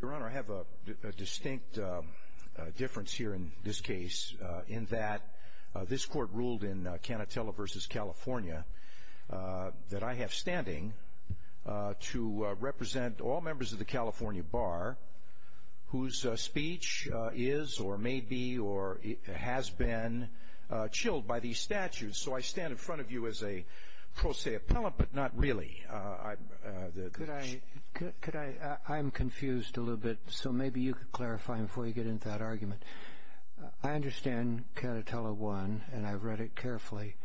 Your Honor, I have a distinct difference here in this case in that this Court ruled in Canatella v. California that I have standing to represent all members of the California Bar whose speech is or may be or has been chilled by these statutes. So I stand in front of you as a I'm confused a little bit, so maybe you could clarify before you get into that argument. I understand Canatella 1 and I've read it carefully,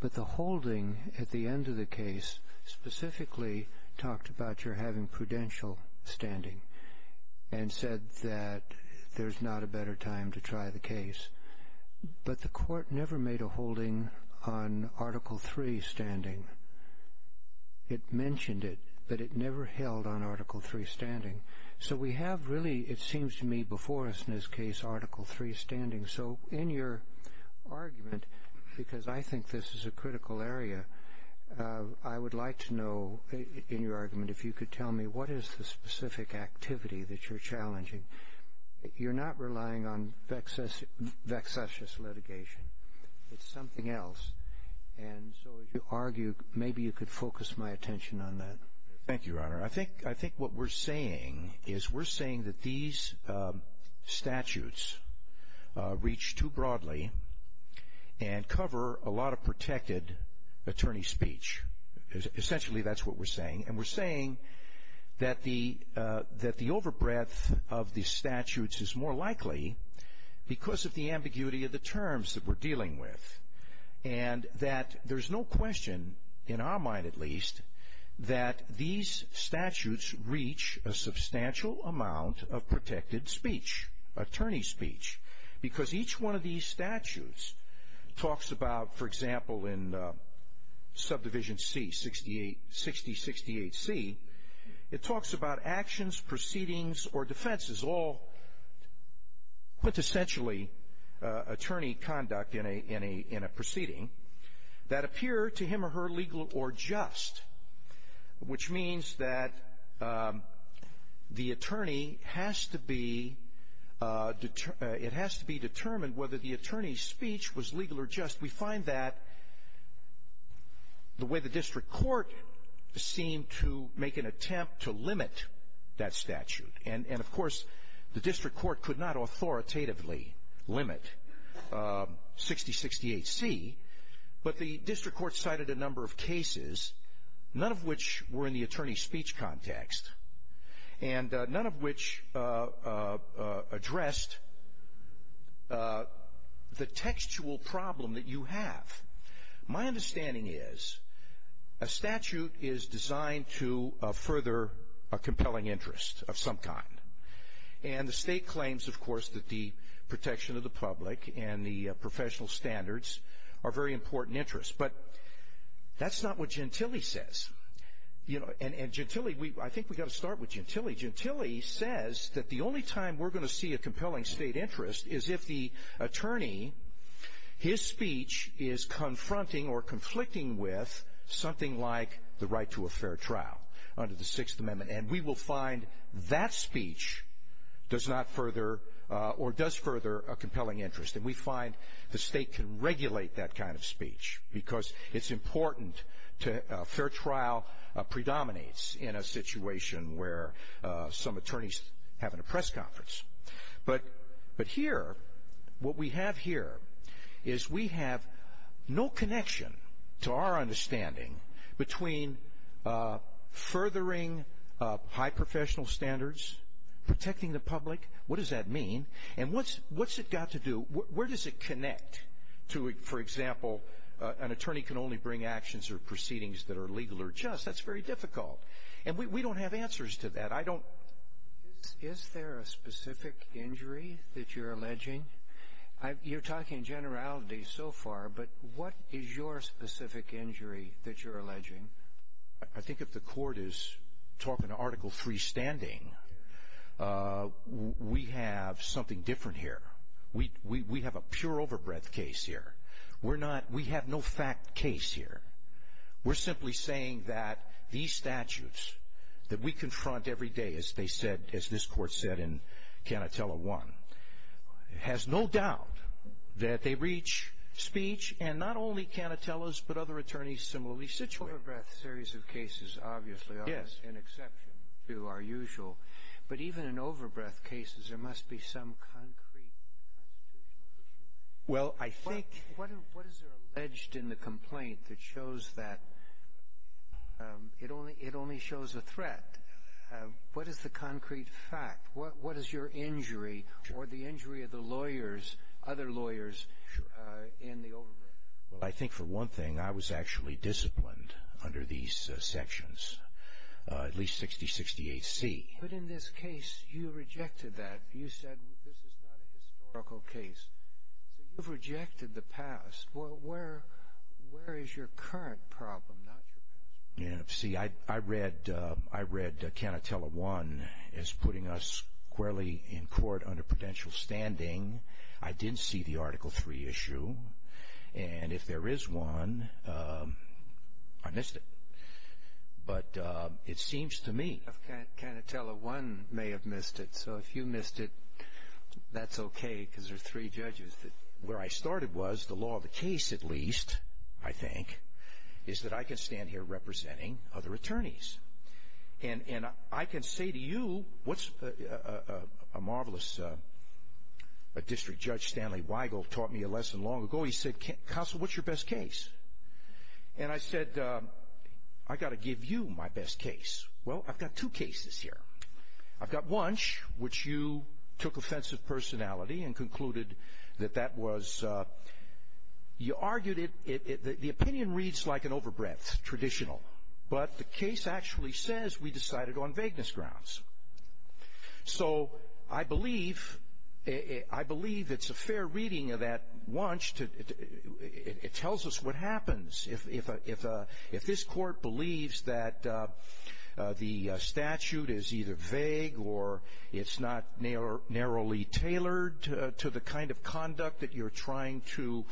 but the holding at the end of the case specifically talked about your having prudential standing and said that there's not a better time to try the case. But the Court never made a holding on Article 3 standing. It mentioned it, but it never held on Article 3 standing. So we have really, it seems to me before us in this case, Article 3 standing. So in your argument, because I think this is a critical area, I would like to know, in your argument, if you could tell me what is the specific activity that you're challenging. You're not relying on vexatious litigation. It's something else. And so as you argue, maybe you could focus my attention on that. Thank you, Your Honor. I think what we're saying is we're saying that these statutes reach too broadly and cover a lot of protected attorney speech. Essentially, that's what we're saying. And we're saying that the overbreadth of the statutes is more likely because of the ambiguity of the terms that we're dealing with. And that there's no question, in our mind at least, that these statutes reach a substantial amount of protected speech, attorney speech. Because each one of these statutes talks about, for example, in Subdivision C6068C, it talks about actions, proceedings, or defenses, all quintessentially attorney conduct in a proceeding, that appear to him or her legal or just, which means that the attorney has to be determined whether the attorney's speech was legal or just. We find that the way the district court seemed to make an attempt to limit that statute, and of course, the district court could not authoritatively limit 6068C, but the district court cited a number of cases, none of which were in the attorney speech context, and none of which addressed the textual problem that you have. My understanding is, a statute is designed to further a compelling interest of some kind. And the state claims, of course, that the protection of the public and the professional standards are very important interests. But that's not what Gentile says. And Gentile, I think we've got to start with says that the only time we're going to see a compelling state interest is if the attorney, his speech is confronting or conflicting with something like the right to a fair trial under the Sixth Amendment. And we will find that speech does not further or does further a compelling interest. And we find the state can regulate that kind of speech because it's attorneys having a press conference. But here, what we have here is we have no connection to our understanding between furthering high professional standards, protecting the public. What does that mean? And what's it got to do? Where does it connect to, for example, an attorney can only bring actions or proceedings that are legal or just. That's very difficult. And we don't have answers to that. I don't. Is there a specific injury that you're alleging? You're talking generality so far, but what is your specific injury that you're alleging? I think if the court is talking to Article 3 standing, we have something different here. We we have a pure overbreadth case here. We're not we have no fact case here. We're simply saying that these statutes that we confront every day, as they said, as this court said in Canatella one, it has no doubt that they reach speech and not only Canatella's, but other attorneys similarly situate a series of cases, obviously, as an exception to our usual. But even in overbreadth cases, there must be some concrete constitutional issue. Well, I think what what is there alleged in the complaint that shows that it only it only shows a threat? What is the concrete fact? What what is your injury or the injury of the lawyers, other lawyers in the overbreadth? Well, I think for one thing, I was actually disciplined under these sections, at least in this case, you rejected that. You said this is not a historical case. So you've rejected the past. Well, where where is your current problem? Not your past. See, I read I read Canatella one is putting us squarely in court under prudential standing. I didn't see the Article three issue. And if there is one, I missed it. But it seems to me Canatella one may have missed it. So if you missed it, that's OK, because there are three judges that where I started was the law of the case, at least, I think, is that I can stand here representing other attorneys. And I can say to you, what's a marvelous district judge, Stanley Weigel, taught me a lesson long ago. He said, Counsel, what's your best case? And I said, I got to give you my best case. Well, I've got two cases here. I've got one which you took offensive personality and concluded that that was you argued it. The opinion reads like an overbreadth traditional, but the case actually says we it tells us what happens if if if if this court believes that the statute is either vague or it's not narrow, narrowly tailored to the kind of conduct that you're trying to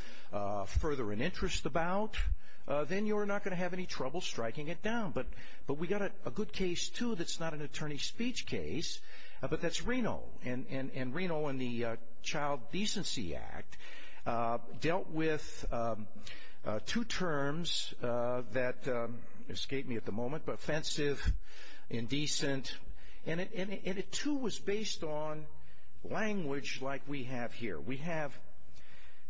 further an interest about, then you're not going to have any trouble striking it down. But but we got a good case, too. That's not an attorney speech case, but that's Reno and Reno and the Child Decency Act dealt with two terms that escaped me at the moment, but offensive, indecent, and it too was based on language like we have here. We have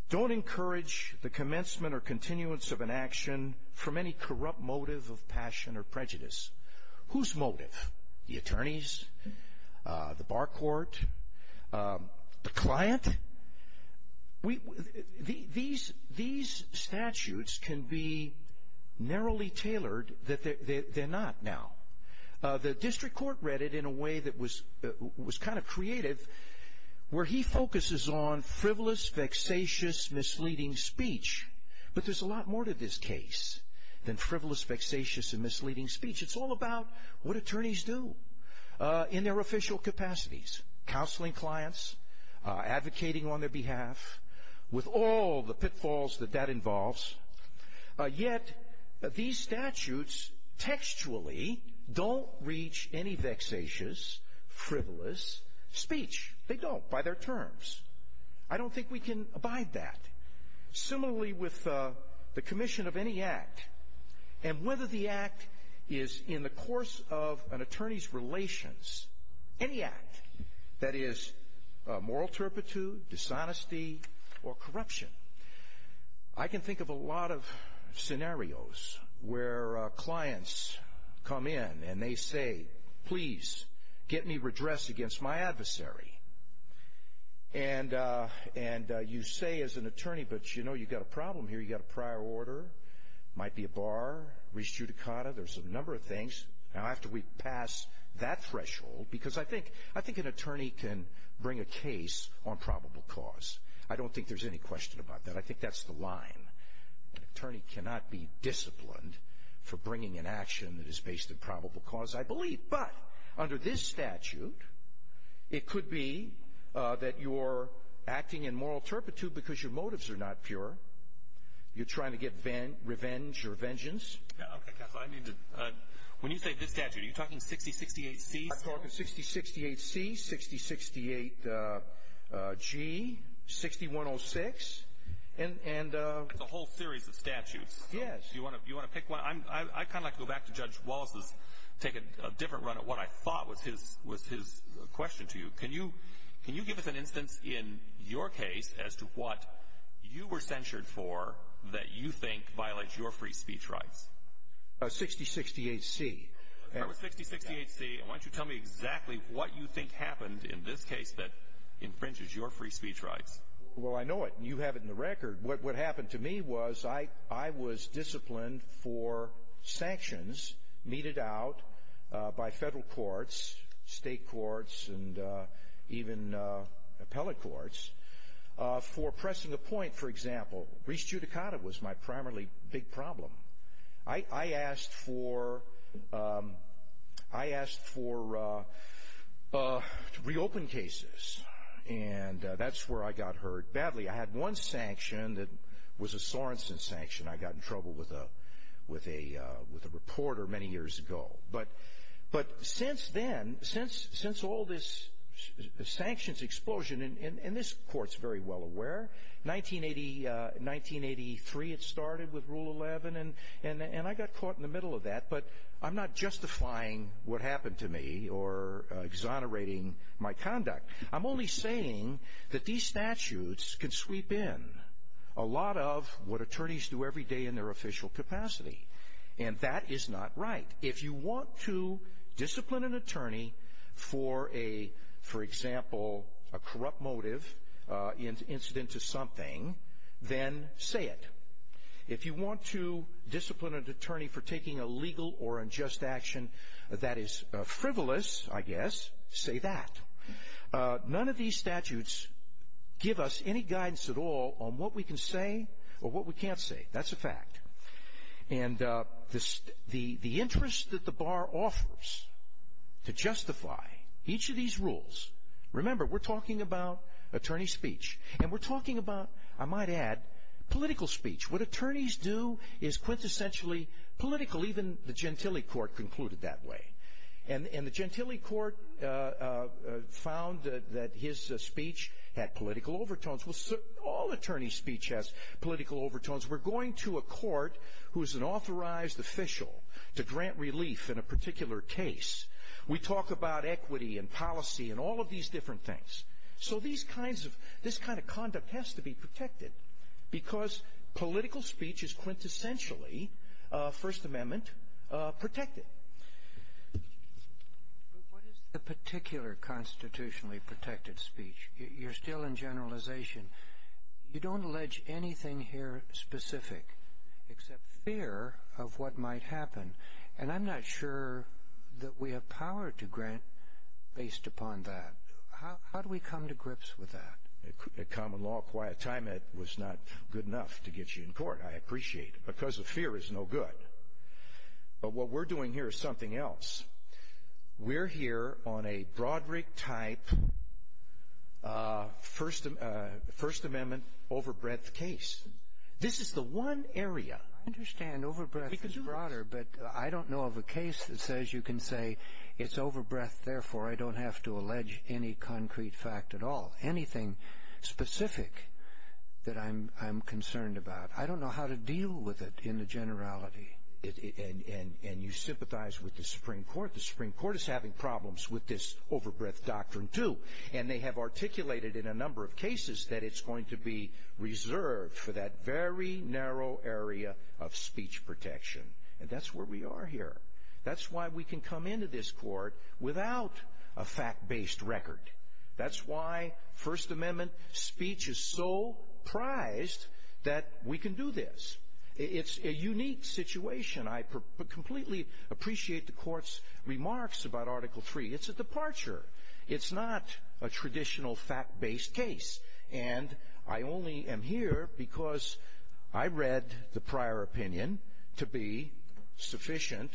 don't encourage the commencement or continuance of an action from any corrupt motive of passion or prejudice. Whose motive? The attorneys, the bar court, the client. We these these statutes can be narrowly tailored that they're not now. The district court read it in a way that was was kind of creative, where he focuses on frivolous, vexatious, misleading speech. But there's a lot more to this case than frivolous, vexatious and misleading speech. It's all about what attorneys do in their official capacities, counseling clients advocating on their behalf with all the pitfalls that that involves. Yet these statutes textually don't reach any vexatious, frivolous speech. They don't by their terms. I don't think we can abide that. Similarly, with the commission of any act and whether the act is in the course of an attorney's relations, any act that is moral turpitude, dishonesty, or corruption. I can think of a lot of scenarios where clients come in and they say, please get me redressed against my adversary. And you say as an attorney, but you know, you've got a problem here. You've got a prior order, might be a bar, res judicata. There's a number of things. Now, after we pass that threshold, because I think I think an attorney can bring a case on probable cause. I don't think there's any question about that. I think that's the line. An attorney cannot be disciplined for bringing an action that is based on probable cause, I believe. But under this statute, it could be that you're acting in moral turpitude because your motives are not pure. You're trying to get revenge or vengeance. When you say this statute, are you talking 6068C? I'm talking 6068C, 6068G, 6106. It's a whole series of statutes. Yes. Do you want to pick one? I'd kind of like to go back to Judge Wallace's, take a different run at what I thought was his question to you. Can you give us an instance in your case as to what you were censured for that you think violates your free speech rights? 6068C. That was 6068C. Why don't you tell me exactly what you think happened in this case that infringes your free speech rights? Well, I know it, and you have it in the record. What happened to me was I was disciplined for sanctions meted out by federal courts, state courts, and even appellate courts for pressing a point, for example. Reached judicata was my primarily big problem. I asked for reopen cases, and that's where I got hurt badly. I had one sanction that was a Sorensen sanction. I got in trouble with a reporter many years ago, but since then, since all this sanctions explosion, and this court's very well aware. 1983, it started with Rule 11, and I got caught in the middle of that, but I'm not justifying what happened to me or exonerating my conduct. I'm only saying that these statutes can sweep in a lot of what attorneys do every day in their official capacity, and that is not right. If you want to discipline an attorney for a, for example, a corrupt motive incident to something, then say it. If you want to discipline an attorney for taking a legal or unjust action that is frivolous, I guess, say that. None of these statutes give us any guidance at all on what we can say or what we can't say. That's a fact. And the interest that the bar offers to justify each of these rules, remember, we're talking about attorney speech, and we're talking about, I might add, political speech. What attorneys do is quintessentially political. Even the Gentile Court concluded that way, and the Gentile Court found that his speech had political overtones. Well, all attorney speech has political overtones. We're going to a court who is an authorized official to grant relief in a particular case. We talk about equity and policy and all of these different things. So these kinds of, this kind of conduct has to be protected because political speech is quintessentially First Amendment protected. But what is the particular constitutionally protected speech? You're still in generalization. You don't allege anything here specific except fear of what might happen. And I'm not sure that we have power to grant based upon that. How do we come to grips with that? At Common Law, quite a time, that was not good enough to get you in court, I appreciate. Because of fear is no good. But what we're doing here is something else. We're here on a Broderick-type First Amendment overbreadth case. This is the one area. I understand overbreadth is broader, but I don't know of a case that says you can say, it's overbreadth, therefore I don't have to allege any concrete fact at all. Anything specific that I'm concerned about. I don't know how to deal with it in the generality. And you sympathize with the Supreme Court. The Supreme Court is having problems with this overbreadth doctrine, too. And they have articulated in a number of cases that it's going to be reserved for that very narrow area of speech protection. And that's where we are here. That's why we can come into this court without a fact-based record. That's why First Amendment speech is so prized that we can do this. It's a unique situation. I completely appreciate the Court's remarks about Article III. It's a departure. It's not a traditional fact-based case. And I only am here because I read the prior opinion to be sufficient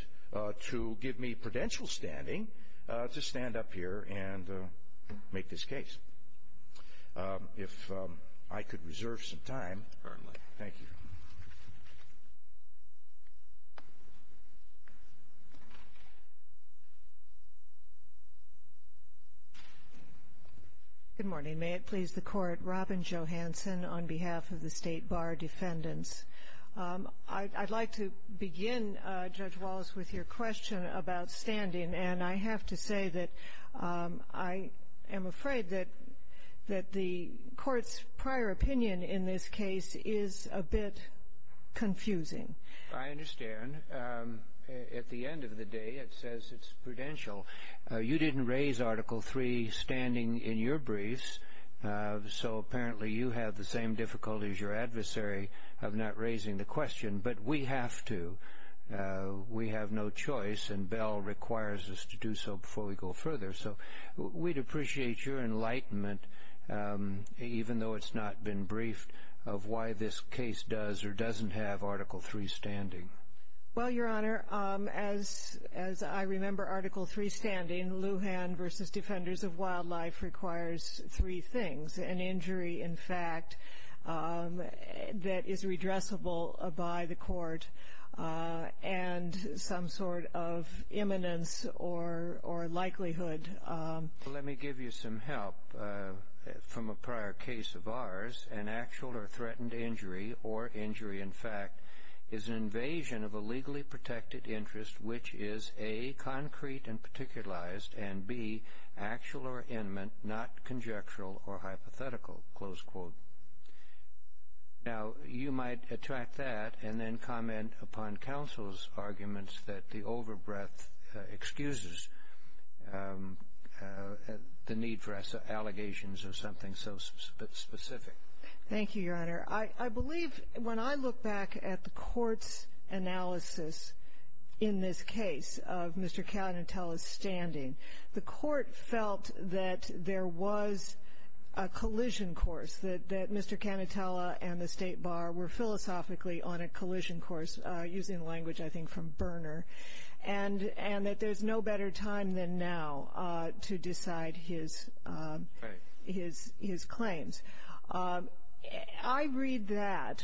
to give me prudential standing to stand up here and make this case. If I could reserve some time. Thank you. Good morning. May it please the Court. Robin Johansen on behalf of the State Bar Defendants. I'd like to begin, Judge Wallace, with your question about standing. And I have to say that I am afraid that the Court's prior opinion in this case is a bit confusing. I understand. At the end of the day, it says it's prudential. You didn't raise Article III standing in your briefs. So apparently you have the same difficulty as your adversary of not raising the question. But we have to. We have no choice. And Bell requires us to do so before we go further. So we'd appreciate your enlightenment, even though it's not been briefed, of why this case does or doesn't have Article III standing. Well, Your Honor, as I remember Article III standing, Lujan v. Defenders of Wildlife requires three things, an injury, in fact, that is redressable by the Court, and some sort of imminence or likelihood. Let me give you some help from a prior case of ours. An actual or threatened injury, or injury, in fact, is an invasion of a legally protected interest which is, A, concrete and particularized, and, B, actual or imminent, not conjectural or hypothetical, close quote. Now, you might attract that and then comment upon counsel's arguments that the overbreath excuses the need for allegations of something so specific. Thank you, Your Honor. I believe, when I look back at the Court's analysis in this case of Mr. Calientele's that Mr. Calientele and the State Bar were philosophically on a collision course, using language I think from Berner, and that there's no better time than now to decide his claims. I read that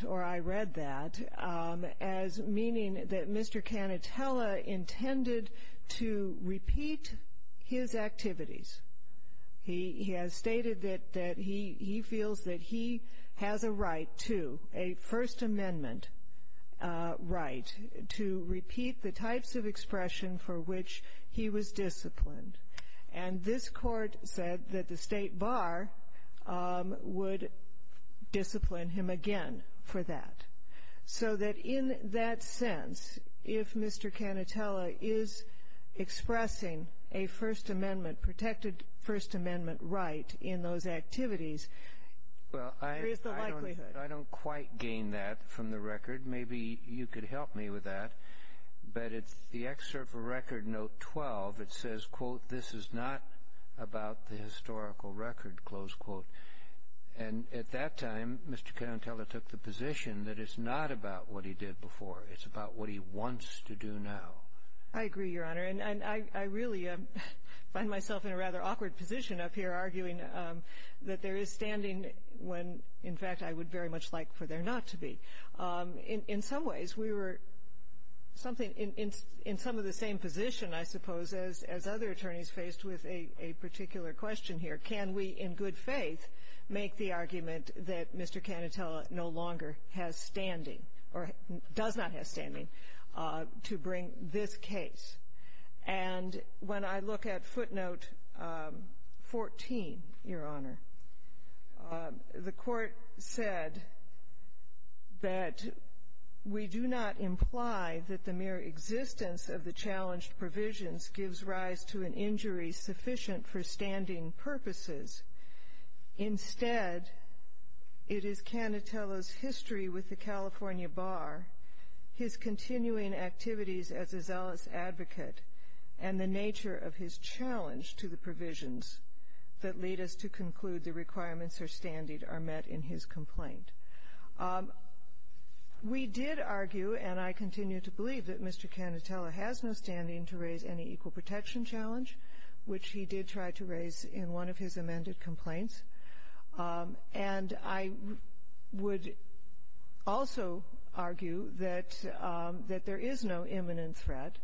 as meaning that Mr. Calientele intended to repeat his activities. He has stated that he feels that he has a right to, a First Amendment right, to repeat the types of expression for which he was disciplined. And this Court said that the State Bar would discipline him again for that. So that in that sense, if Mr. Calientele is expressing a First Amendment, protected First Amendment right in those activities, there is the likelihood. I don't quite gain that from the record. Maybe you could help me with that. But it's the excerpt from Record Note 12. It says, quote, this is not about the historical record, close quote. And at that time, Mr. Calientele took the position that it's not about what he did before. It's about what he wants to do now. I agree, Your Honor. And I really find myself in a rather awkward position up here, arguing that there is standing when, in fact, I would very much like for there not to be. In some ways, we were in some of the same position, I suppose, as other attorneys faced with a particular question here. Can we in good faith make the argument that Mr. Calientele no longer has standing or does not have standing to bring this case? And when I look at footnote 14, Your Honor, the Court said that we do not imply that the mere existence of the challenged provisions gives rise to an injury sufficient for standing purposes. Instead, it is Calientele's history with the California Bar, his continuing activities as a zealous advocate, and the nature of his challenge to the provisions that lead us to conclude the requirements for standing are met in his complaint. We did argue, and I continue to believe, that Mr. Calientele has no standing to raise any equal protection challenge, which he did try to raise in one of his amended complaints. And I would also argue that there is no imminent threat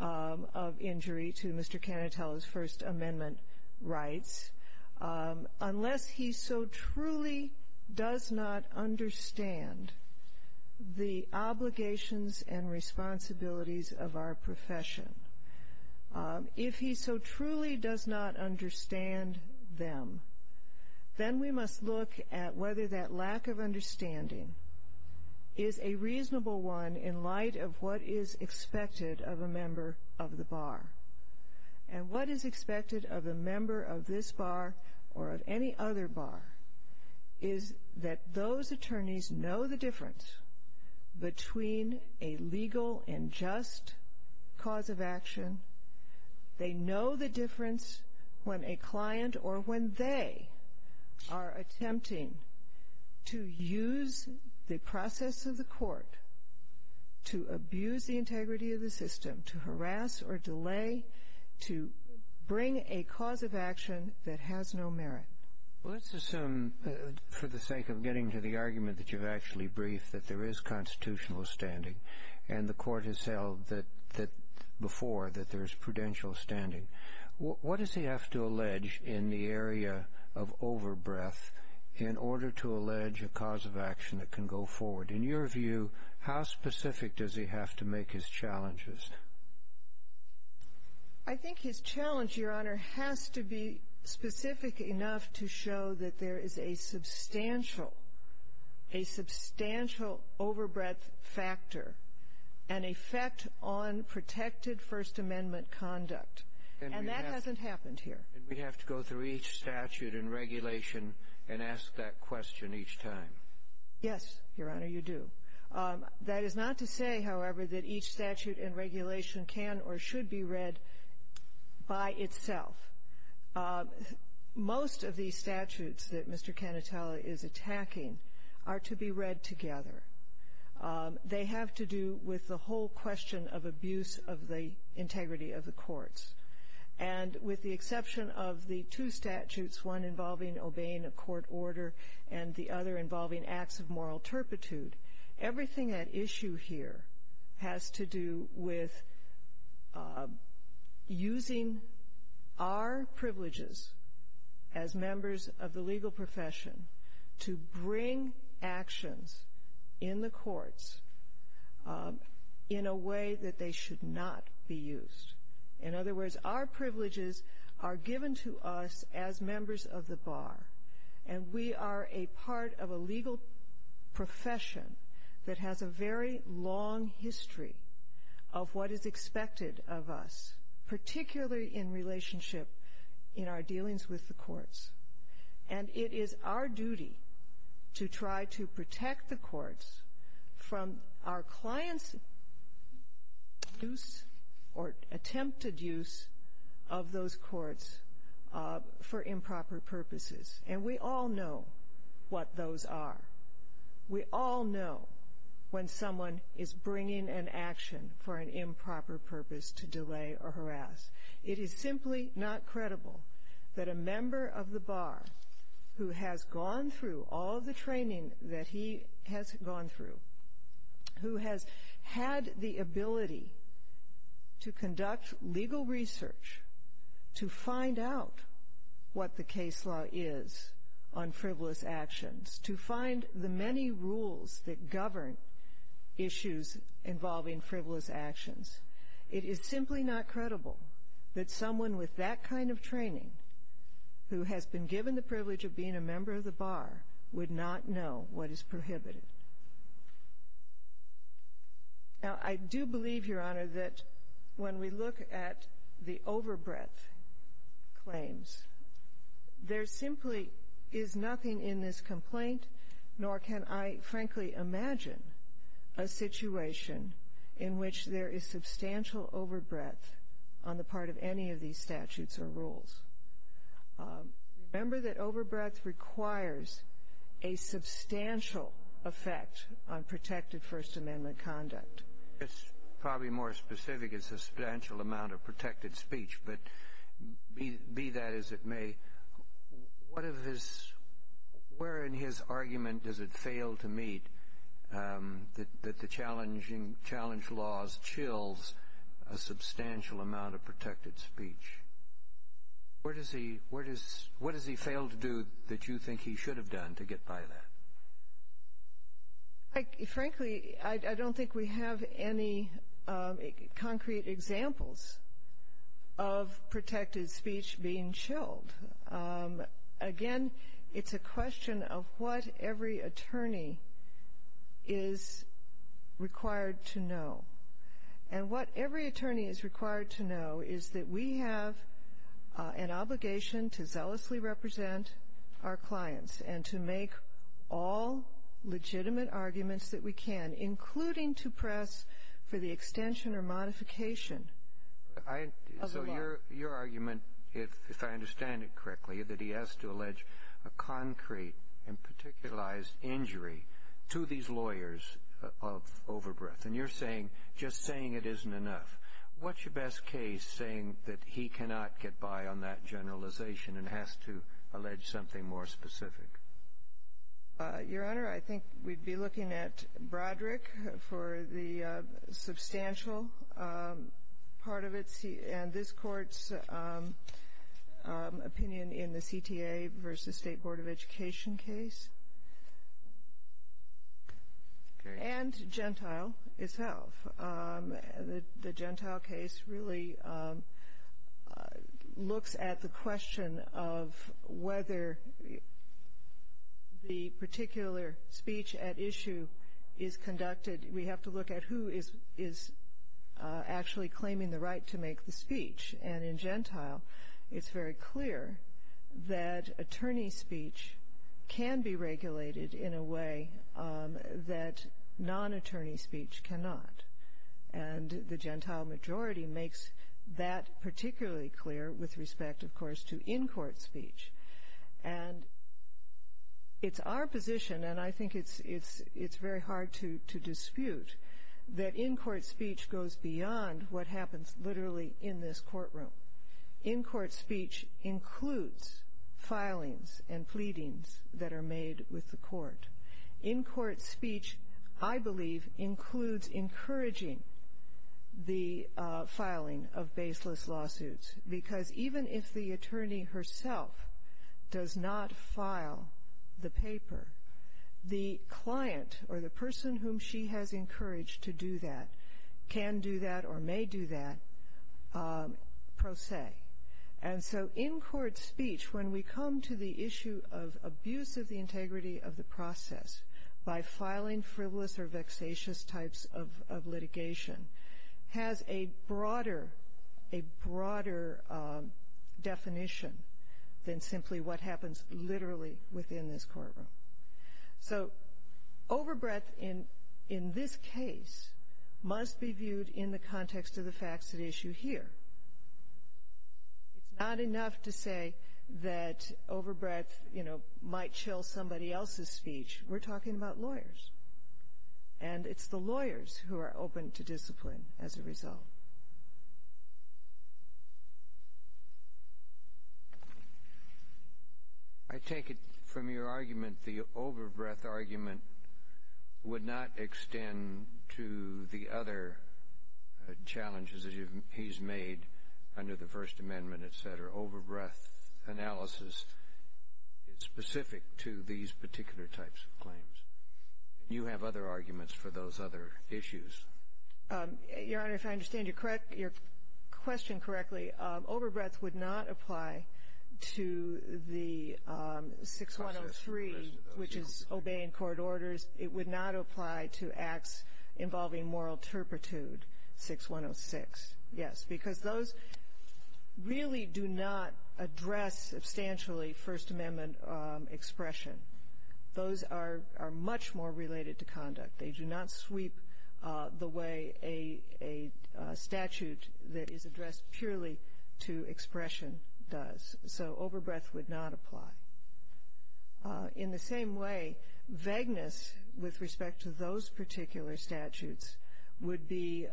of injury to Mr. Calientele's First Amendment rights unless he so truly does not understand the obligations and responsibilities of our profession. If he so truly does not understand them, then we must look at whether that lack of understanding is a reasonable one in light of what is expected of a member of the Bar. And what is expected of a member of this Bar or of any other Bar is that those attorneys know the difference between a legal and just cause of action. They know the difference when a client or when they are attempting to use the process of the court to abuse the integrity of the system, to harass or delay, to bring a cause of action that has no merit. Well, let's assume, for the sake of getting to the argument that you've actually briefed, that there is constitutional standing, and the Court has said before that there is prudential standing. What does he have to allege in the area of over-breath in order to allege a cause of action that can go forward? In your view, how specific does he have to make his challenges? I think his challenge, Your Honor, has to be specific enough to show that there is a substantial, a substantial over-breath factor, an effect on protected First Amendment conduct. And that hasn't happened here. And we have to go through each statute and regulation and ask that question each time. Yes, Your Honor, you do. That is not to say, however, that each statute and regulation can or should be read by itself. Most of these statutes that Mr. Canatella is attacking are to be read together. They have to do with the whole question of abuse of the integrity of the courts. And with the exception of the two statutes, one involving obeying a court order and the involving acts of moral turpitude, everything at issue here has to do with using our privileges as members of the legal profession to bring actions in the courts in a way that they should not be used. In other words, our privileges are given to us as members of the bar. And we are a part of a legal profession that has a very long history of what is expected of us, particularly in relationship in our dealings with the courts. And it is our duty to try to protect the courts from our clients' use or attempted use of those courts for improper purposes. And we all know what those are. We all know when someone is bringing an action for an improper purpose to delay or harass. It is simply not credible that a member of the bar who has gone through all the training that he has gone through, who has had the ability to conduct legal research, to find out what the case law is on frivolous actions, to find the many rules that govern issues involving frivolous actions. It is simply not credible that someone with that kind of training, who has been given the privilege of being a member of the bar, would not know what is prohibited. Now, I do believe, Your Honor, that when we look at the overbreadth claims, there simply is nothing in this complaint, nor can I frankly imagine a situation in which there is substantial overbreadth on the part of any of these statutes or rules. Remember that overbreadth requires a substantial effect on protected First Amendment conduct. It's probably more specific. It's a substantial amount of protected speech. But be that as it may, where in his argument does it fail to meet that the challenge laws chills a substantial amount of protected speech? What does he fail to do that you think he should have done to get by that? Frankly, I don't think we have any concrete examples of protected speech being chilled. Again, it's a question of what every attorney is required to know. And what every attorney is required to know is that we have an obligation to zealously represent our clients and to make all legitimate arguments that we can, including to press for the extension or modification of the law. So your argument, if I understand it correctly, is that he has to allege a concrete and just saying it isn't enough. What's your best case saying that he cannot get by on that generalization and has to allege something more specific? Your Honor, I think we'd be looking at Broderick for the substantial part of it. And this Court's opinion in the CTA versus State Board of Education case. And Gentile itself, the Gentile case really looks at the question of whether the particular speech at issue is conducted. We have to look at who is actually claiming the right to make the speech. And in Gentile, it's very clear that attorney speech can be regulated in a way that non-attorney speech cannot. And the Gentile majority makes that particularly clear with respect, of course, to in-court speech. And it's our position, and I think it's very hard to dispute, that in-court speech goes beyond what happens literally in this courtroom. In-court speech includes filings and pleadings that are made with the court. In-court speech, I believe, includes encouraging the filing of baseless lawsuits. Because even if the attorney herself does not file the paper, the client or the person whom she has encouraged to do that can do that or may do that, pro se. And so in-court speech, when we come to the issue of abuse of the integrity of the process by filing frivolous or vexatious types of litigation, has a broader definition than simply what happens literally within this courtroom. So overbreadth in this case must be viewed in the context of the facts at issue here. It's not enough to say that overbreadth, you know, might chill somebody else's speech. We're talking about lawyers. And it's the lawyers who are open to discipline as a result. I take it from your argument, the overbreadth argument would not extend to the other challenges that he's made under the First Amendment, et cetera. Overbreadth analysis is specific to these particular types of claims. You have other arguments for those other issues. Your Honor, if I understand your question correctly, overbreadth would not apply to the 6103, which is obeying court orders. It would not apply to acts involving moral turpitude, 6106. Yes. Because those really do not address substantially First Amendment expression. Those are much more related to conduct. They do not sweep the way a statute that is addressed purely to expression does. So overbreadth would not apply. In the same way, vagueness with respect to those particular statutes would be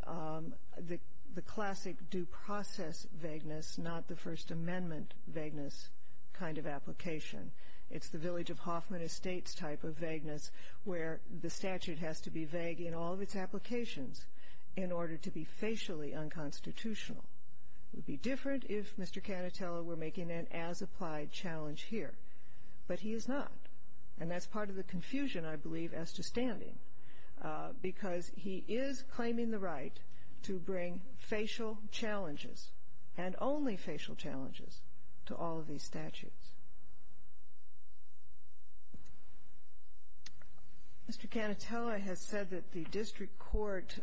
the classic due process vagueness, not the First Amendment vagueness kind of application. It's the Village of Hoffman Estates type of vagueness, where the statute has to be vague in all of its applications in order to be facially unconstitutional. It would be different if Mr. Canatello were making an as-applied challenge here. But he is not. And that's part of the confusion, I believe, as to standing, because he is claiming the right to bring facial challenges, and only facial challenges, to all of these statutes. Mr. Canatello has said that the district court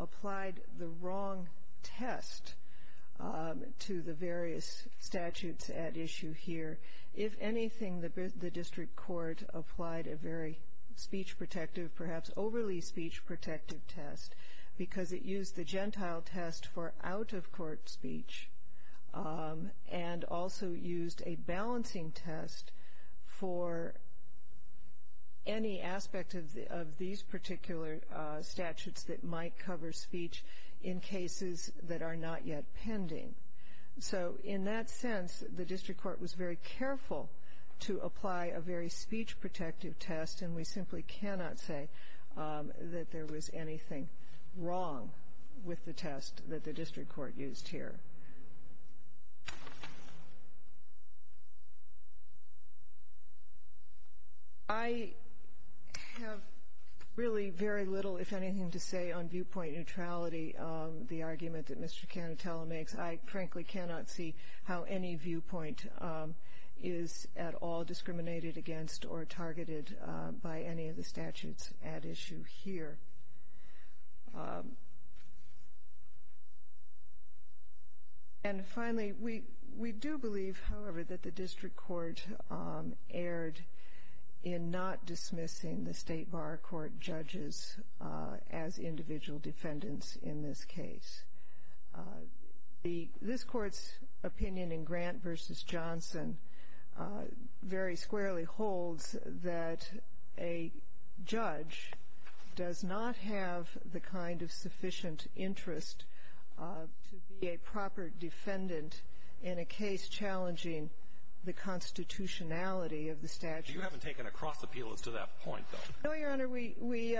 applied the wrong test to the various statutes at issue here. If anything, the district court applied a very speech-protective, perhaps overly speech-protective test, because it used the Gentile test for out-of-court speech, and also used a balancing test for any aspect of these particular statutes that might cover speech in cases that are not yet pending. So in that sense, the district court was very careful to apply a very speech-protective test, and we simply cannot say that there was anything wrong with the test that the district court used here. I have really very little, if anything, to say on viewpoint neutrality, the argument that Mr. Canatello makes. I, frankly, cannot see how any viewpoint is at all discriminated against or targeted by any of the statutes at issue here. And finally, we do believe, however, that the district court erred in not dismissing the state bar court judges as individual defendants in this case. This court's opinion in Grant v. Johnson very squarely holds that a judge does not have the kind of sufficient interest to be a proper defendant in a case challenging the constitutionality of the statute. You haven't taken a cross-appeal as to that point, though. No, Your Honor. We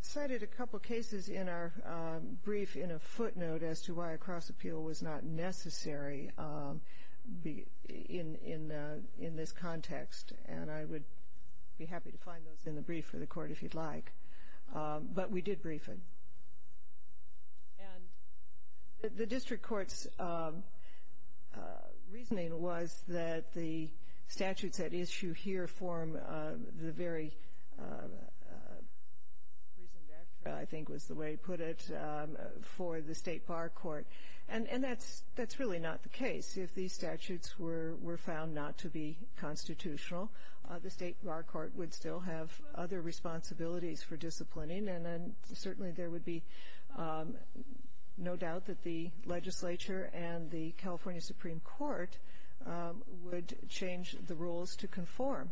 cited a couple cases in our brief in a footnote as to why a cross-appeal was not necessary in this context, and I would be happy to find those in the brief for the Court if you'd like. But we did brief it. And the district court's reasoning was that the statutes at issue here form the very prison vector, I think was the way he put it, for the state bar court. And that's really not the case. If these statutes were found not to be constitutional, the state bar court would still have other responsibilities for disciplining, and then certainly there would be no doubt that the legislature and the California Supreme Court would change the rules to conform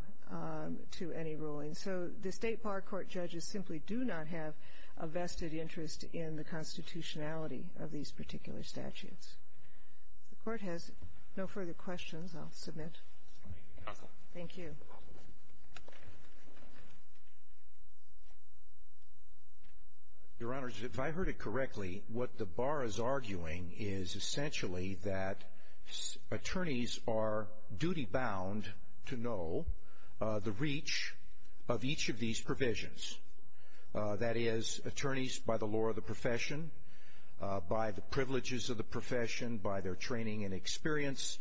to any ruling. So the state bar court judges simply do not have a vested interest in the constitutionality of these particular statutes. The Court has no further questions. I'll submit. Thank you. Your Honor, if I heard it correctly, what the bar is arguing is essentially that attorneys are duty-bound to know the reach of each of these provisions. That is, attorneys by the law of the profession, by the privileges of the profession, by their training and experience,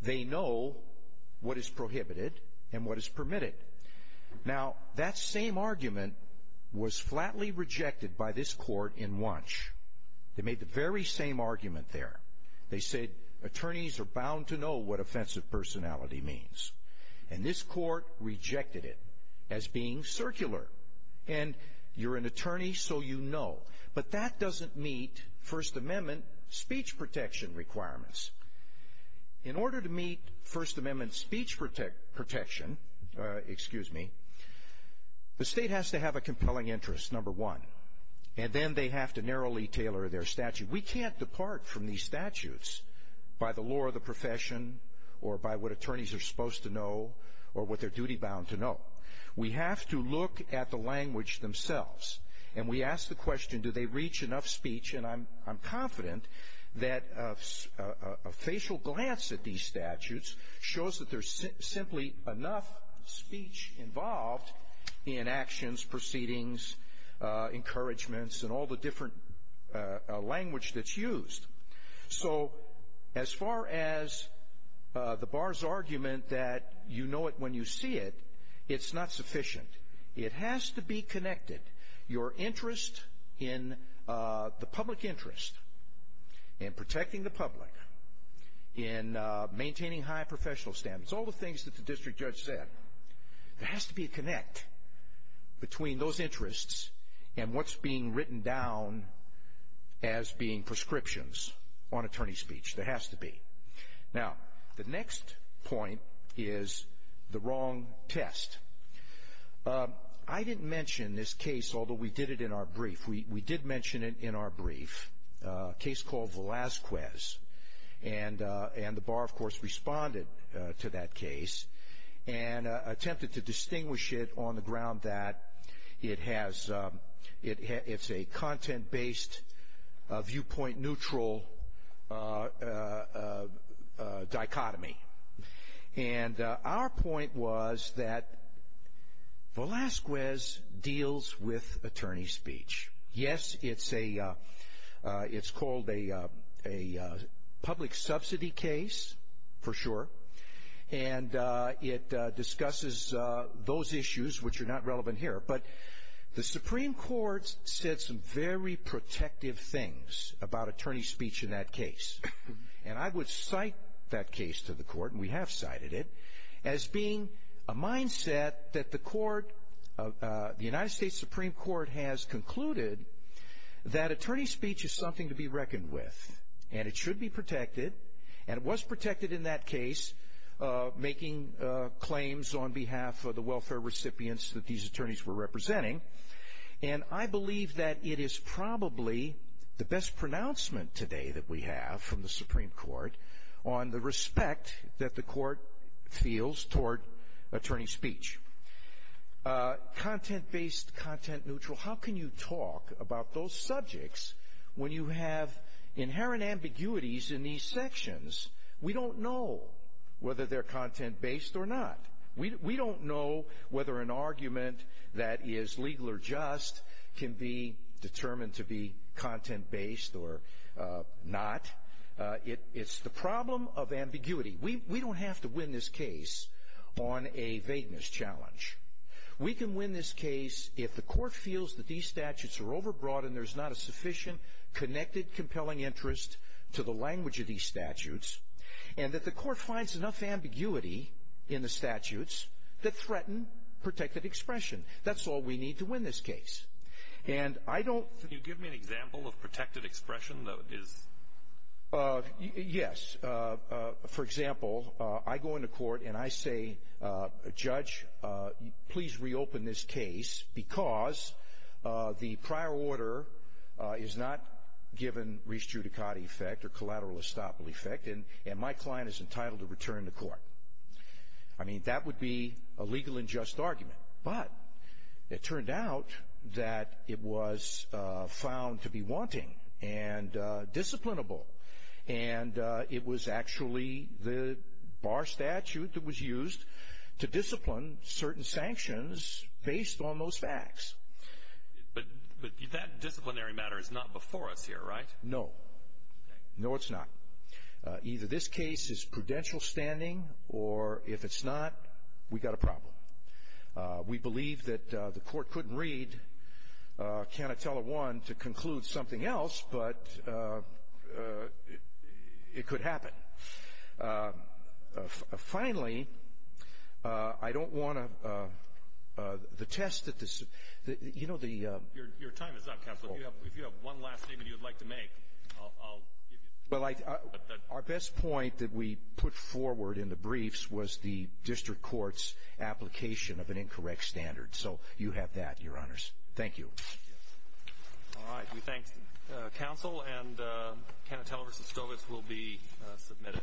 they know what is prohibited and what is permitted. Now, that same argument was flatly rejected by this Court in Wunsch. They made the very same argument there. They said attorneys are bound to know what offensive personality means. And this Court rejected it as being circular. And you're an attorney, so you know. But that doesn't meet First Amendment speech protection requirements. In order to meet First Amendment speech protection, excuse me, the state has to have a compelling interest, number one. And then they have to narrowly tailor their statute. We can't depart from these statutes by the law of the profession or by what attorneys are supposed to know or what they're duty-bound to know. We have to look at the language themselves. And we ask the question, do they reach enough speech? And I'm confident that a facial glance at these statutes shows that there's simply enough speech involved in actions, proceedings, encouragements, and all the different language that's used. So as far as the bar's argument that you know it when you see it, it's not sufficient. It has to be connected. Your interest in the public interest in protecting the public, in maintaining high professional standards, all the things that the district judge said, there has to be a connect between those interests and what's being written down as being prescriptions on attorney speech. There has to be. Now, the next point is the wrong test. I didn't mention this case, although we did it in our brief. We did mention it in our brief, a case called Velazquez. And the bar, of course, responded to that case and attempted to distinguish it on the ground that it's a content-based, viewpoint-neutral dichotomy. And our point was that Velazquez deals with attorney speech. Yes, it's called a public subsidy case, for sure. And it discusses those issues which are not relevant here. But the Supreme Court said some very protective things about attorney speech in that case. And I would cite that case to the court, and we have cited it, as being a mindset that the court, the United States Supreme Court has concluded that attorney speech is something to be reckoned with. And it should be protected. And it was protected in that case, making claims on behalf of the welfare recipients that these attorneys were representing. And I believe that it is probably the best pronouncement today that we have from the Supreme Court on the respect that the court feels toward attorney speech. Content-based, content-neutral, how can you talk about those subjects when you have inherent ambiguities in these sections? We don't know whether they're content-based or not. We don't know whether an argument that is legal or just can be determined to be content-based or not. It's the problem of ambiguity. We don't have to win this case on a vagueness challenge. We can win this case if the court feels that these statutes are overbroad and there's not a sufficient, connected, compelling interest to the language of these statutes, and that the court finds enough ambiguity in the statutes that threaten protected expression. That's all we need to win this case. And I don't — Can you give me an example of protected expression that is — Yes. For example, I go into court and I say, Judge, please reopen this case because the prior order is not given res judicata effect or collateral estoppel effect, and my client is entitled to return to court. I mean, that would be a legal and just argument. But it turned out that it was found to be wanting and disciplinable, and it was actually the bar statute that was used to discipline certain sanctions based on those facts. But that disciplinary matter is not before us here, right? No. No, it's not. Either this case is prudential standing, or if it's not, we've got a problem. We believe that the court couldn't read Canatella 1 to conclude something else, but it could happen. Finally, I don't want to — the test that this — you know, the — Your time is up, Counselor. If you have one last statement you'd like to make, I'll give you — Our best point that we put forward in the briefs was the district court's application of an incorrect standard. So you have that, Your Honors. Thank you. All right. We thank Counsel, and Canatella v. Stovitz will be submitted.